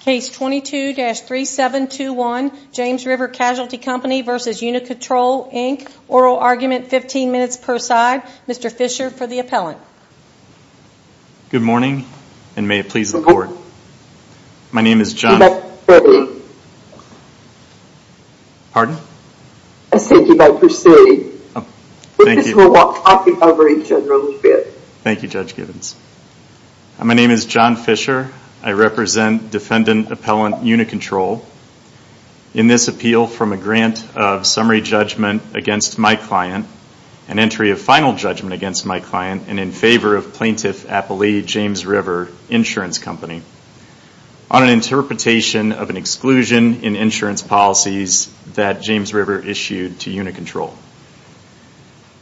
Case 22-3721 James River Casualty Company v. Unicontrol Inc. Oral Argument, 15 minutes per side. Mr. Fisher for the appellant. Good morning, and may it please the court. My name is John- You may proceed. Pardon? I said you may proceed. Thank you. This is Milwaukee Public Library, General Fitz. Thank you, Judge Gibbons. My name is John Fisher. I represent Defendant Appellant Unicontrol in this appeal from a grant of summary judgment against my client, an entry of final judgment against my client, and in favor of Plaintiff Appellee James River Insurance Company, on an interpretation of an exclusion in insurance policies that James River issued to Unicontrol.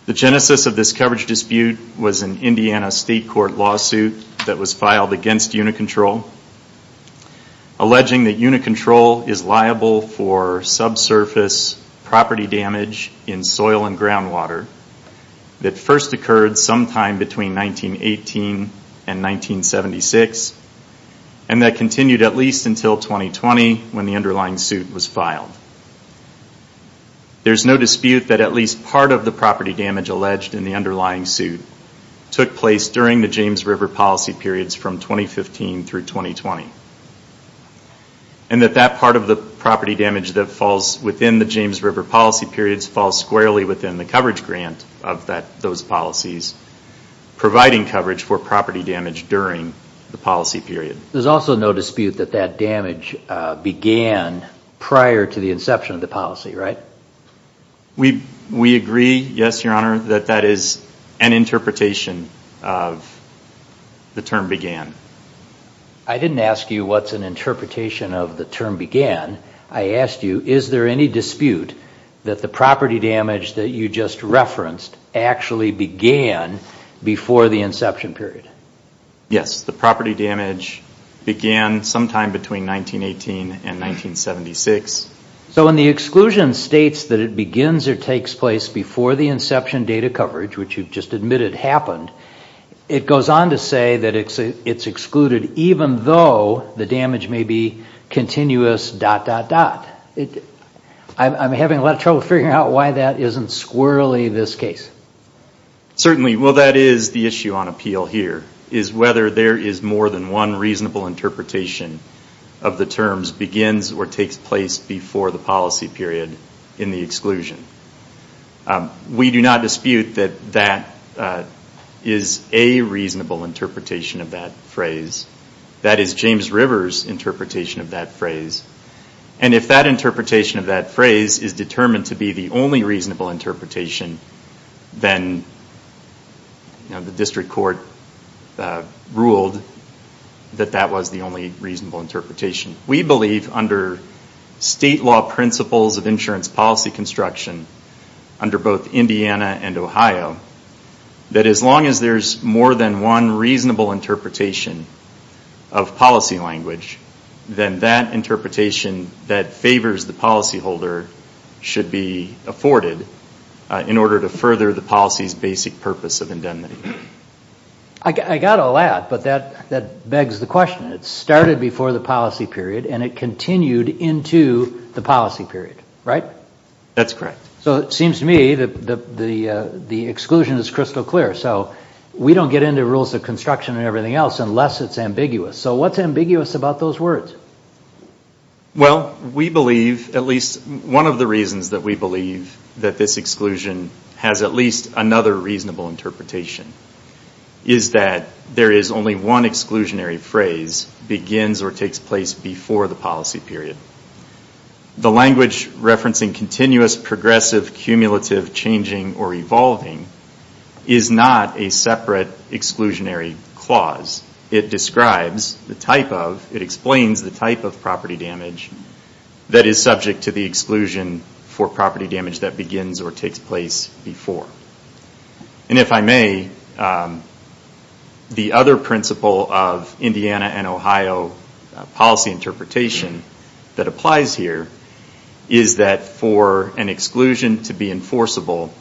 The genesis of this coverage dispute was an Indiana State Court lawsuit that was filed against Unicontrol, alleging that Unicontrol is liable for subsurface property damage in soil and groundwater that first occurred sometime between 1918 and 1976, and that continued at least until 2020 when the underlying suit was filed. There's no dispute that at least part of the property damage alleged in the underlying suit took place during the James River policy periods from 2015 through 2020, and that that part of the property damage that falls within the James River policy periods falls squarely within the coverage grant of those policies, providing coverage for property damage during the policy period. There's also no dispute that that damage began prior to the inception of the policy, right? We agree, yes, Your Honor, that that is an interpretation of the term began. I didn't ask you what's an interpretation of the term began. I asked you, is there any dispute that the property damage that you just referenced actually began before the inception period? Yes, the property damage began sometime between 1918 and 1976. So when the exclusion states that it begins or takes place before the inception data coverage, which you've just admitted happened, it goes on to say that it's excluded even though the damage may be continuous, dot, dot, dot. I'm having a lot of trouble figuring out why that isn't squirrelly this case. Certainly, while that is the issue on appeal here, is whether there is more than one reasonable interpretation of the terms begins or takes place before the policy period in the exclusion. We do not dispute that that is a reasonable interpretation of that phrase. If that interpretation of that phrase is determined to be the only reasonable interpretation, then the district court ruled that that was the only reasonable interpretation. We believe under state law principles of insurance policy construction, under both Indiana and Ohio, that as long as there's more than one reasonable interpretation of policy language, then that interpretation that favors the policyholder should be afforded in order to further the policy's basic purpose of indemnity. I got all that, but that begs the question. It started before the policy period and it continued into the policy period, right? That's correct. So it seems to me that the exclusion is crystal clear. We don't get into rules of construction and everything else unless it's ambiguous. What's ambiguous about those words? We believe, at least one of the reasons that we believe, that this exclusion has at least another reasonable interpretation is that there is only one exclusionary phrase begins or takes place before the policy period. The language referencing continuous, progressive, cumulative, changing, or evolving is not a separate exclusionary clause. It describes the type of, it explains the type of property damage that is subject to the exclusion for property damage that begins or takes place before. If I may, the other principle of Indiana and Ohio policy interpretation that applies here is that for an exclusion to be enforceable,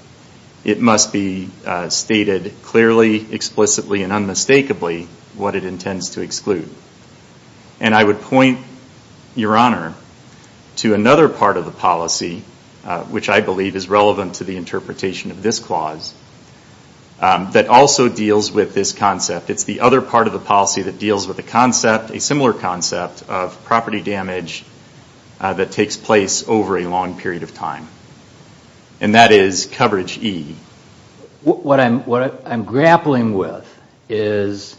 it must be stated clearly, explicitly, and unmistakably what it intends to exclude. And I would point, Your Honor, to another part of the policy, which I believe is relevant to the interpretation of this clause, that also deals with this concept. It's the other part of the policy that deals with a concept, of property damage that takes place over a long period of time. And that is coverage E. What I'm grappling with is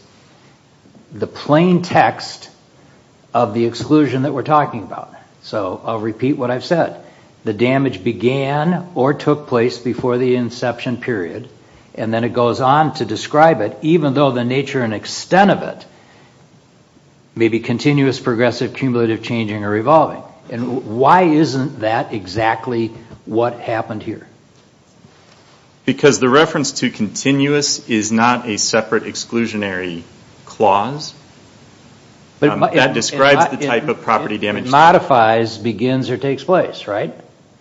the plain text of the exclusion that we're talking about. So I'll repeat what I've said. The damage began or took place before the inception period, and then it goes on to describe it, even though the nature and extent of it may be continuous, progressive, cumulative, changing, or evolving. And why isn't that exactly what happened here? Because the reference to continuous is not a separate exclusionary clause. That describes the type of property damage. It modifies, begins, or takes place, right?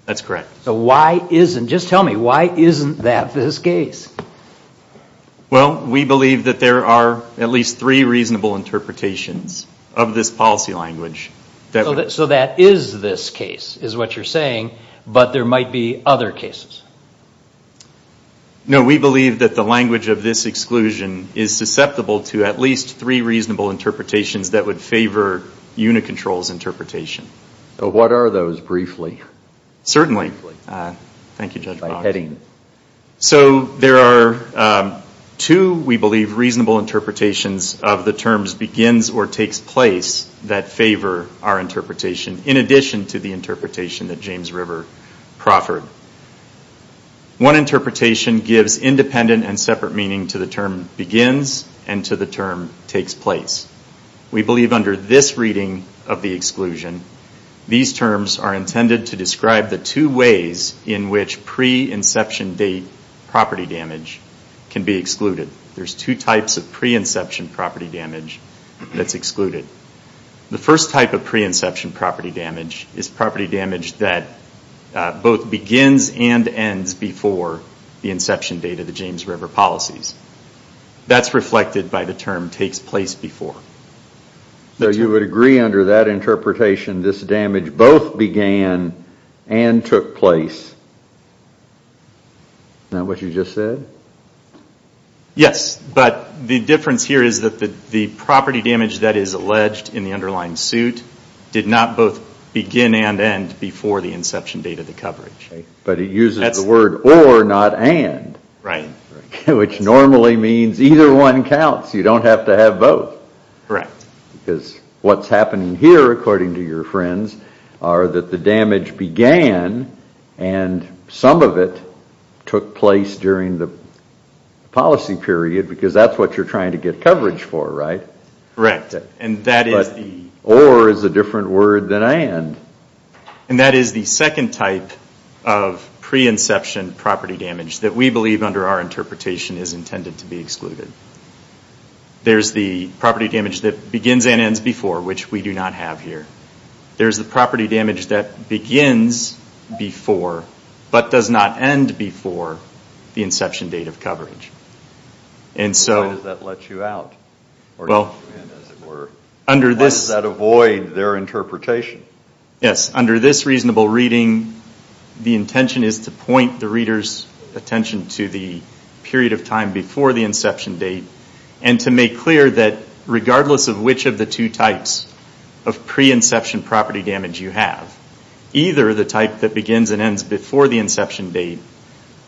That's correct. So why isn't, just tell me, why isn't that this case? Well, we believe that there are at least three reasonable interpretations of this policy language. So that is this case, is what you're saying. But there might be other cases. No, we believe that the language of this exclusion is susceptible to at least three reasonable interpretations that would favor Unicontrol's interpretation. What are those, briefly? Certainly. Thank you, Judge Boggs. So there are two, we believe, reasonable interpretations of the terms begins or takes place that favor our interpretation, in addition to the interpretation that James River proffered. One interpretation gives independent and separate meaning to the term begins and to the term takes place. We believe under this reading of the exclusion, these terms are intended to describe the two ways in which pre-inception date property damage can be excluded. There's two types of pre-inception property damage that's excluded. The first type of pre-inception property damage is property damage that both begins and ends before the inception date of the James River policies. That's reflected by the term takes place before. So you would agree under that interpretation this damage both began and took place? Isn't that what you just said? Yes, but the difference here is that the property damage that is alleged in the underlying suit did not both begin and end before the inception date of the coverage. But it uses the word or, not and. Right. Which normally means either one counts. You don't have to have both. Correct. Because what's happening here, according to your friends, are that the damage began and some of it took place during the policy period because that's what you're trying to get coverage for, right? Correct. Or is a different word than and. And that is the second type of pre-inception property damage that we believe under our interpretation is intended to be excluded. There's the property damage that begins and ends before, which we do not have here. There's the property damage that begins before but does not end before the inception date of coverage. Why does that let you out? Or let you in, as it were? How does that avoid their interpretation? Yes, under this reasonable reading, the intention is to point the reader's attention to the period of time before the inception date and to make clear that regardless of which of the two types of pre-inception property damage you have, either the type that begins and ends before the inception date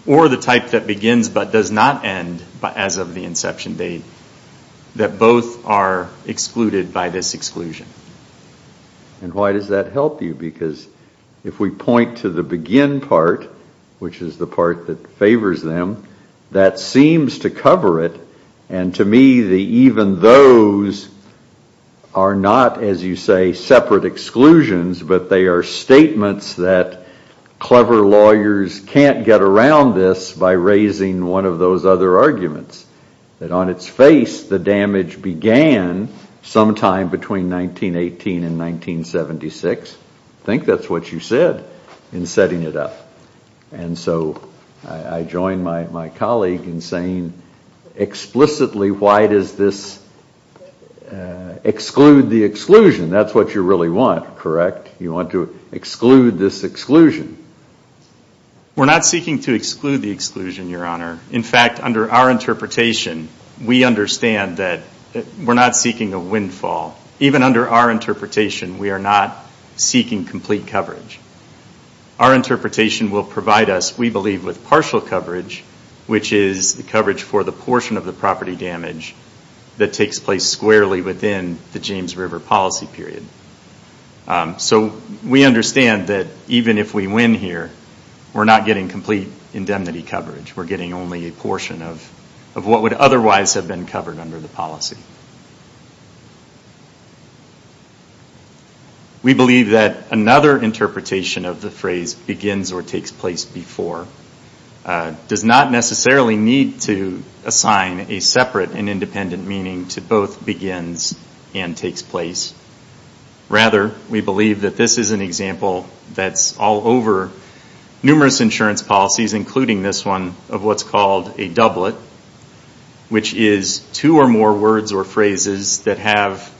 or the type that begins but does not end as of the inception date, that both are excluded by this exclusion. And why does that help you? Because if we point to the begin part, which is the part that favors them, that seems to cover it. And to me, even those are not, as you say, separate exclusions, but they are statements that clever lawyers can't get around this by raising one of those other arguments. That on its face, the damage began sometime between 1918 and 1976. I think that's what you said in setting it up. And so I join my colleague in saying explicitly why does this exclude the exclusion? That's what you really want, correct? You want to exclude this exclusion. We're not seeking to exclude the exclusion, Your Honor. In fact, under our interpretation, we understand that we're not seeking a windfall. Even under our interpretation, we are not seeking complete coverage. Our interpretation will provide us, we believe, with partial coverage, which is the coverage for the portion of the property damage that takes place squarely within the James River policy period. So we understand that even if we win here, we're not getting complete indemnity coverage. We're getting only a portion of what would otherwise have been covered under the policy. We believe that another interpretation of the phrase begins or takes place before does not necessarily need to assign a separate and independent meaning to both begins and takes place. Rather, we believe that this is an example that's all over numerous insurance policies, including this one of what's called a doublet, which is two or more words or phrases that have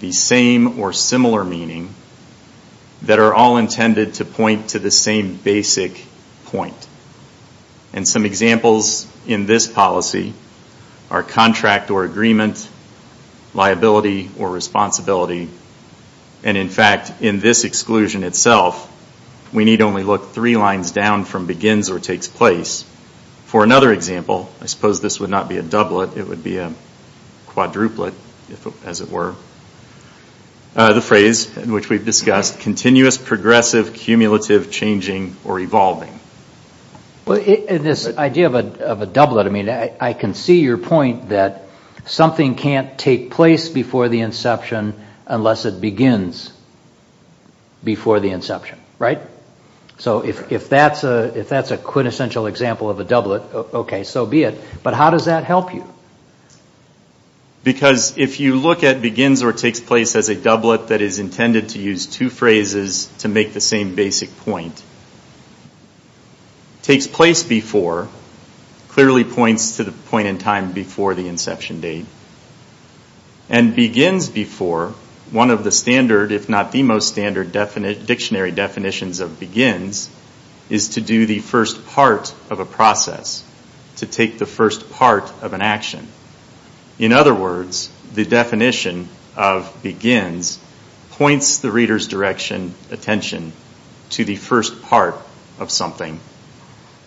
the same or similar meaning that are all intended to point to the same basic point. And some examples in this policy are contract or agreement, liability or responsibility. And in fact, in this exclusion itself, we need only look three lines down from begins or takes place. For another example, I suppose this would not be a doublet. It would be a quadruplet, as it were. The phrase which we've discussed, continuous, progressive, cumulative, changing or evolving. In this idea of a doublet, I can see your point that something can't take place before the inception unless it begins before the inception, right? So if that's a quintessential example of a doublet, okay, so be it. But how does that help you? Because if you look at begins or takes place as a doublet that is intended to use two phrases to make the same basic point. Takes place before clearly points to the point in time before the inception date. And begins before, one of the standard, if not the most standard dictionary definitions of begins, is to do the first part of a process, to take the first part of an action. In other words, the definition of begins points the reader's direction, attention, to the first part of something.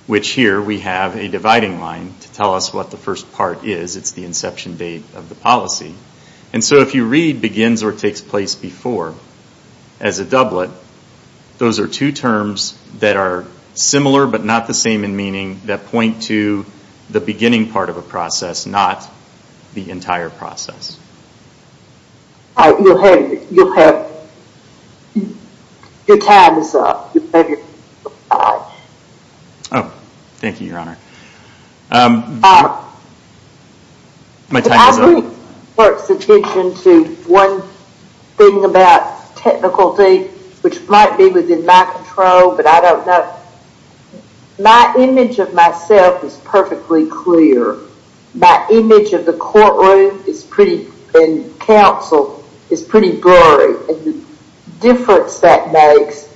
Which here we have a dividing line to tell us what the first part is. It's the inception date of the policy. And so if you read begins or takes place before as a doublet, those are two terms that are similar but not the same in meaning that point to the beginning part of a process, but it's not the entire process. You'll have your time is up. Oh, thank you, Your Honor. My time is up. If I bring the court's attention to one thing about technicality, which might be within my control but I don't know. My image of myself is perfectly clear. My image of the courtroom and council is pretty blurry. The difference that makes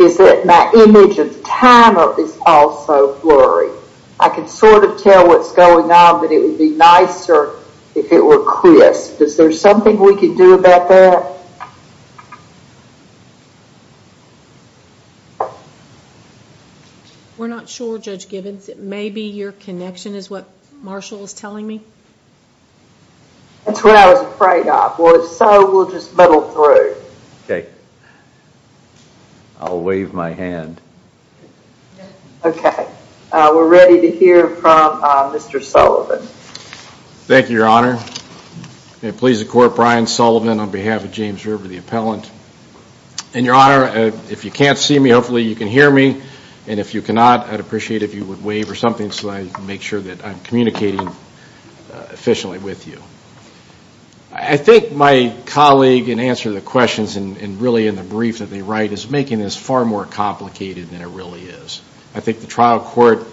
is that my image of the time is also blurry. I can sort of tell what's going on but it would be nicer if it were crisp. Is there something we could do about that? We're not sure, Judge Givens. It may be your connection is what Marshall is telling me. That's what I was afraid of. Well, if so, we'll just muddle through. Okay. I'll wave my hand. Okay. We're ready to hear from Mr. Sullivan. Thank you, Your Honor. It pleases the court, Brian Sullivan on behalf of James River, the appellant. And, Your Honor, if you can't see me, hopefully you can hear me, and if you cannot, I'd appreciate it if you would wave or something so I can make sure that I'm communicating efficiently with you. I think my colleague, in answer to the questions and really in the brief that they write, is making this far more complicated than it really is. I think the trial court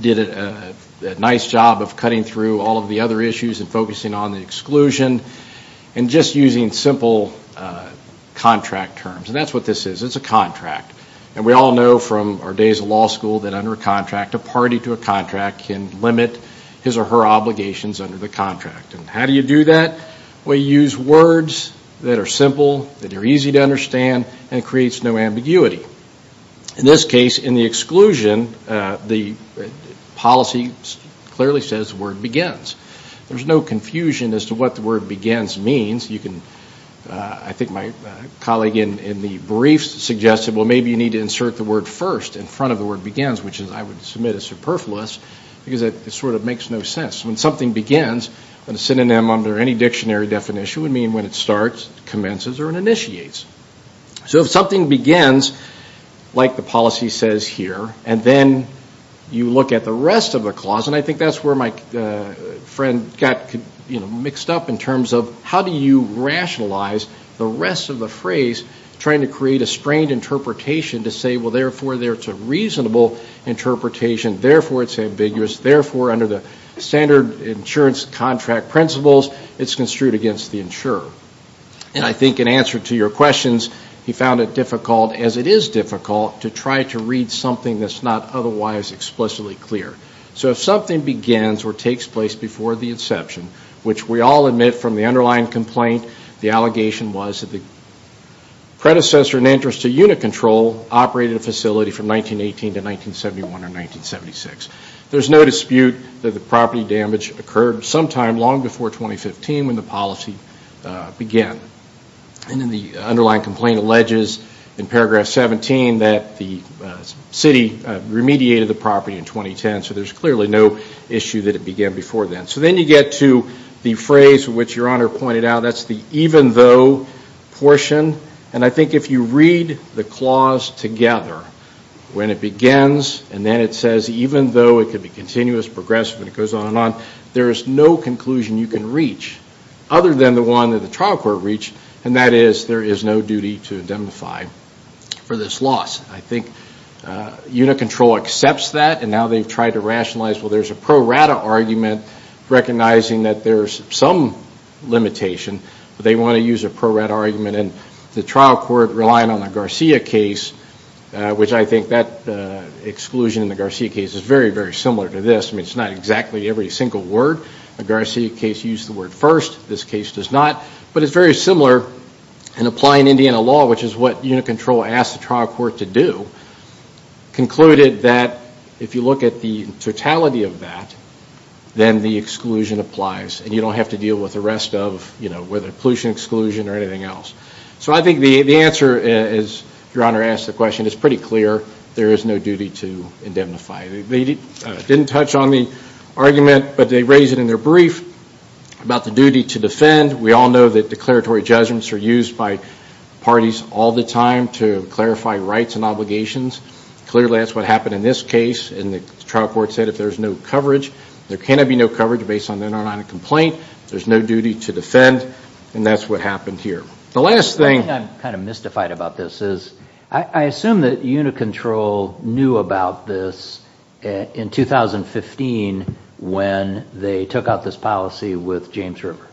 did a nice job of cutting through all of the other issues and focusing on the exclusion and just using simple contract terms. And that's what this is. It's a contract. And we all know from our days of law school that under a contract, a party to a contract can limit his or her obligations under the contract. And how do you do that? Well, you use words that are simple, that are easy to understand, and it creates no ambiguity. In this case, in the exclusion, the policy clearly says the word begins. There's no confusion as to what the word begins means. I think my colleague in the brief suggested, well, maybe you need to insert the word first in front of the word begins, which I would submit is superfluous because it sort of makes no sense. When something begins, a synonym under any dictionary definition would mean when it starts, commences, or it initiates. So if something begins, like the policy says here, and then you look at the rest of the clause, and I think that's where my friend got mixed up in terms of how do you rationalize the rest of the phrase, trying to create a strained interpretation to say, well, therefore, there's a reasonable interpretation, therefore, it's ambiguous, therefore, under the standard insurance contract principles, it's construed against the insurer. I think in answer to your questions, he found it difficult, as it is difficult, to try to read something that's not otherwise explicitly clear. So if something begins or takes place before the inception, which we all admit from the underlying complaint, the allegation was that the predecessor in interest to unit control operated a facility from 1918 to 1971 or 1976. There's no dispute that the property damage occurred sometime long before 2015 when the policy began. And then the underlying complaint alleges in paragraph 17 that the city remediated the property in 2010, so there's clearly no issue that it began before then. So then you get to the phrase which Your Honor pointed out. That's the even though portion. And I think if you read the clause together, when it begins and then it says even though, it could be continuous, progressive, and it goes on and on, there is no conclusion you can reach other than the one that the trial court reached, and that is there is no duty to indemnify for this loss. I think unit control accepts that, and now they've tried to rationalize, well, there's a pro rata argument recognizing that there's some limitation, but they want to use a pro rata argument. And the trial court, relying on the Garcia case, which I think that exclusion in the Garcia case is very, very similar to this. I mean, it's not exactly every single word. The Garcia case used the word first. This case does not. But it's very similar in applying Indiana law, which is what unit control asked the trial court to do, concluded that if you look at the totality of that, then the exclusion applies, and you don't have to deal with the rest of, you know, whether pollution exclusion or anything else. So I think the answer, as Your Honor asked the question, is pretty clear. There is no duty to indemnify. They didn't touch on the argument, but they raised it in their brief about the duty to defend. We all know that declaratory judgments are used by parties all the time to clarify rights and obligations. Clearly, that's what happened in this case, and the trial court said if there's no coverage, there cannot be no coverage based on an indemnifying complaint. There's no duty to defend, and that's what happened here. The last thing. The thing I'm kind of mystified about this is, I assume that unit control knew about this in 2015 when they took out this policy with James River.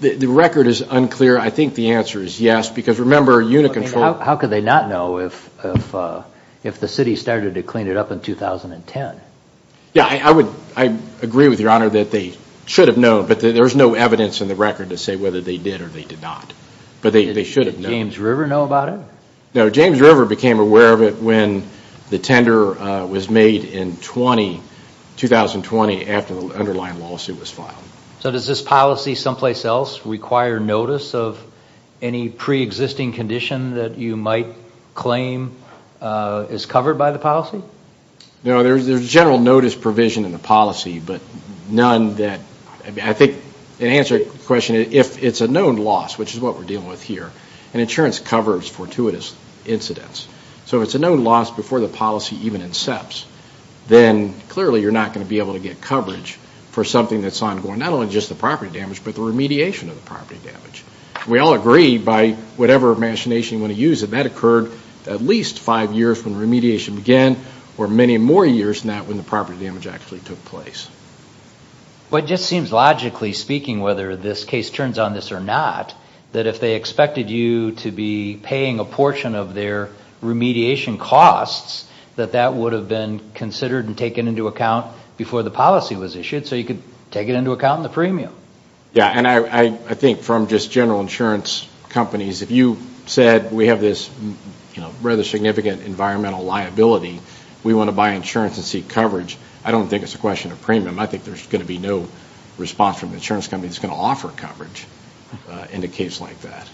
The record is unclear. I think the answer is yes, because remember, unit control. How could they not know if the city started to clean it up in 2010? Yeah, I agree with Your Honor that they should have known, but there's no evidence in the record to say whether they did or they did not. But they should have known. Did James River know about it? No, James River became aware of it when the tender was made in 2020 after the underlying lawsuit was filed. So does this policy someplace else require notice of any preexisting condition that you might claim is covered by the policy? No, there's general notice provision in the policy, but none that I think in answer to your question, if it's a known loss, which is what we're dealing with here, and insurance covers fortuitous incidents, so if it's a known loss before the policy even incepts, then clearly you're not going to be able to get coverage for something that's ongoing, not only just the property damage, but the remediation of the property damage. We all agree by whatever machination you want to use that that occurred at least five years when remediation began or many more years than that when the property damage actually took place. Well, it just seems logically speaking, whether this case turns on this or not, that if they expected you to be paying a portion of their remediation costs, that that would have been considered and taken into account before the policy was issued, so you could take it into account in the premium. Yeah, and I think from just general insurance companies, if you said we have this rather significant environmental liability, we want to buy insurance and seek coverage, I don't think it's a question of premium. I think there's going to be no response from the insurance company that's going to offer coverage in a case like that,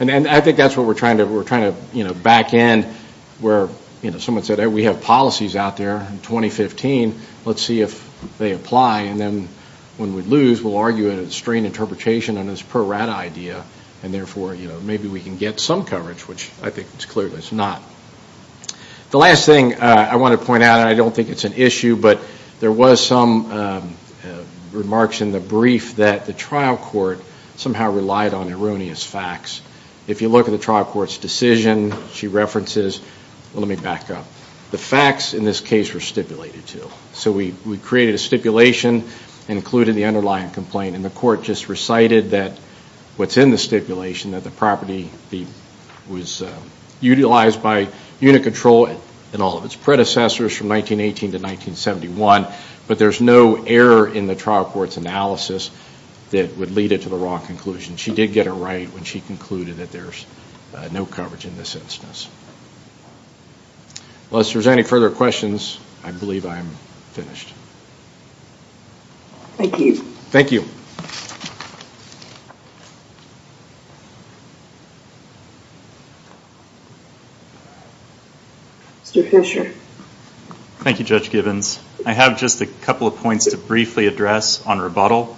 and I think that's what we're trying to back in where someone said, we have policies out there in 2015. Let's see if they apply, and then when we lose, we'll argue it's a strained interpretation and it's a pro-rata idea, and therefore maybe we can get some coverage, which I think it's clearly not. The last thing I want to point out, and I don't think it's an issue, but there was some remarks in the brief that the trial court somehow relied on erroneous facts. If you look at the trial court's decision, she references, well, let me back up. The facts in this case were stipulated, too, so we created a stipulation and included the underlying complaint, and the court just recited that what's in the stipulation, that the property was utilized by unit control and all of its predecessors from 1918 to 1971, but there's no error in the trial court's analysis that would lead it to the wrong conclusion. She did get it right when she concluded that there's no coverage in this instance. Unless there's any further questions, I believe I'm finished. Thank you. Thank you. Mr. Fisher. Thank you, Judge Gibbons. I have just a couple of points to briefly address on rebuttal.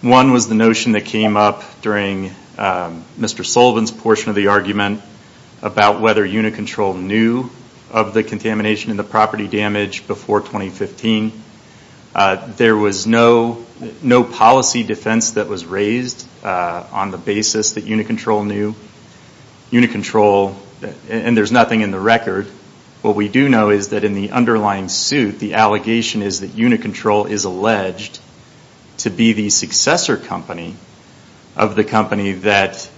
One was the notion that came up during Mr. Sullivan's portion of the argument about whether unit control knew of the contamination and the property damage before 2015. There was no policy defense that was raised on the basis that unit control knew. And there's nothing in the record. What we do know is that in the underlying suit, the allegation is that unit control is alleged to be the successor company of the company that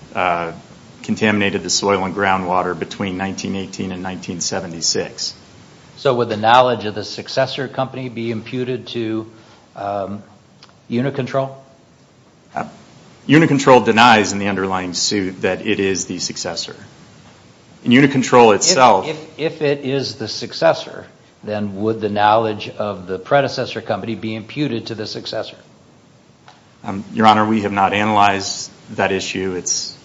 contaminated the soil and groundwater between 1918 and 1976. So would the knowledge of the successor company be imputed to unit control? Unit control denies in the underlying suit that it is the successor. In unit control itself. If it is the successor, then would the knowledge of the predecessor company be imputed to the successor? Your Honor, we have not analyzed that issue. It's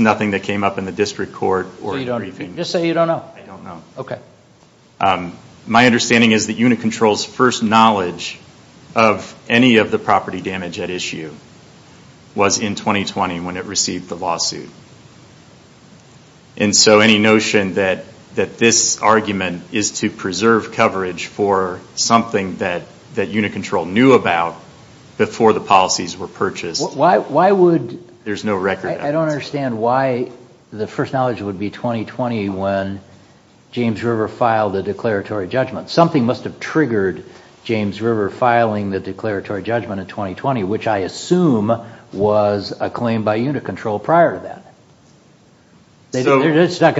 nothing that came up in the district court. Just say you don't know. I don't know. Okay. My understanding is that unit control's first knowledge of any of the property damage at issue was in 2020 when it received the lawsuit. And so any notion that this argument is to preserve coverage for something that unit control knew about before the policies were purchased, there's no record of it. I don't understand why the first knowledge would be 2020 when James River filed the declaratory judgment. Something must have triggered James River filing the declaratory judgment in 2020, which I assume was a claim by unit control prior to that. They're not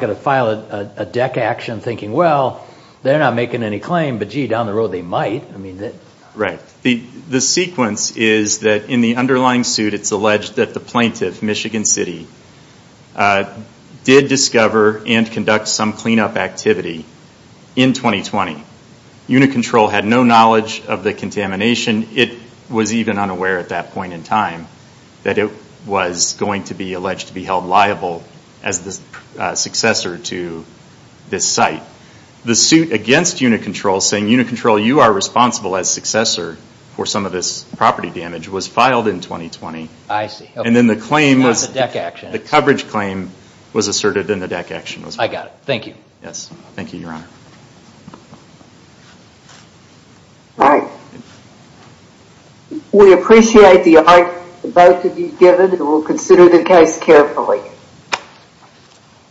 going to file a deck action thinking, well, they're not making any claim, but, gee, down the road they might. Right. The sequence is that in the underlying suit it's alleged that the plaintiff, Michigan City, did discover and conduct some cleanup activity in 2020. Unit control had no knowledge of the contamination. It was even unaware at that point in time that it was going to be alleged to be held liable as the successor to this site. The suit against unit control saying, unit control, you are responsible as successor for some of this property damage, was filed in 2020. I see. And then the claim was... Not the deck action. The coverage claim was asserted and the deck action was filed. I got it. Thank you. Yes. Thank you, Your Honor. All right. We appreciate the argument both of you have given, and we'll consider the case carefully.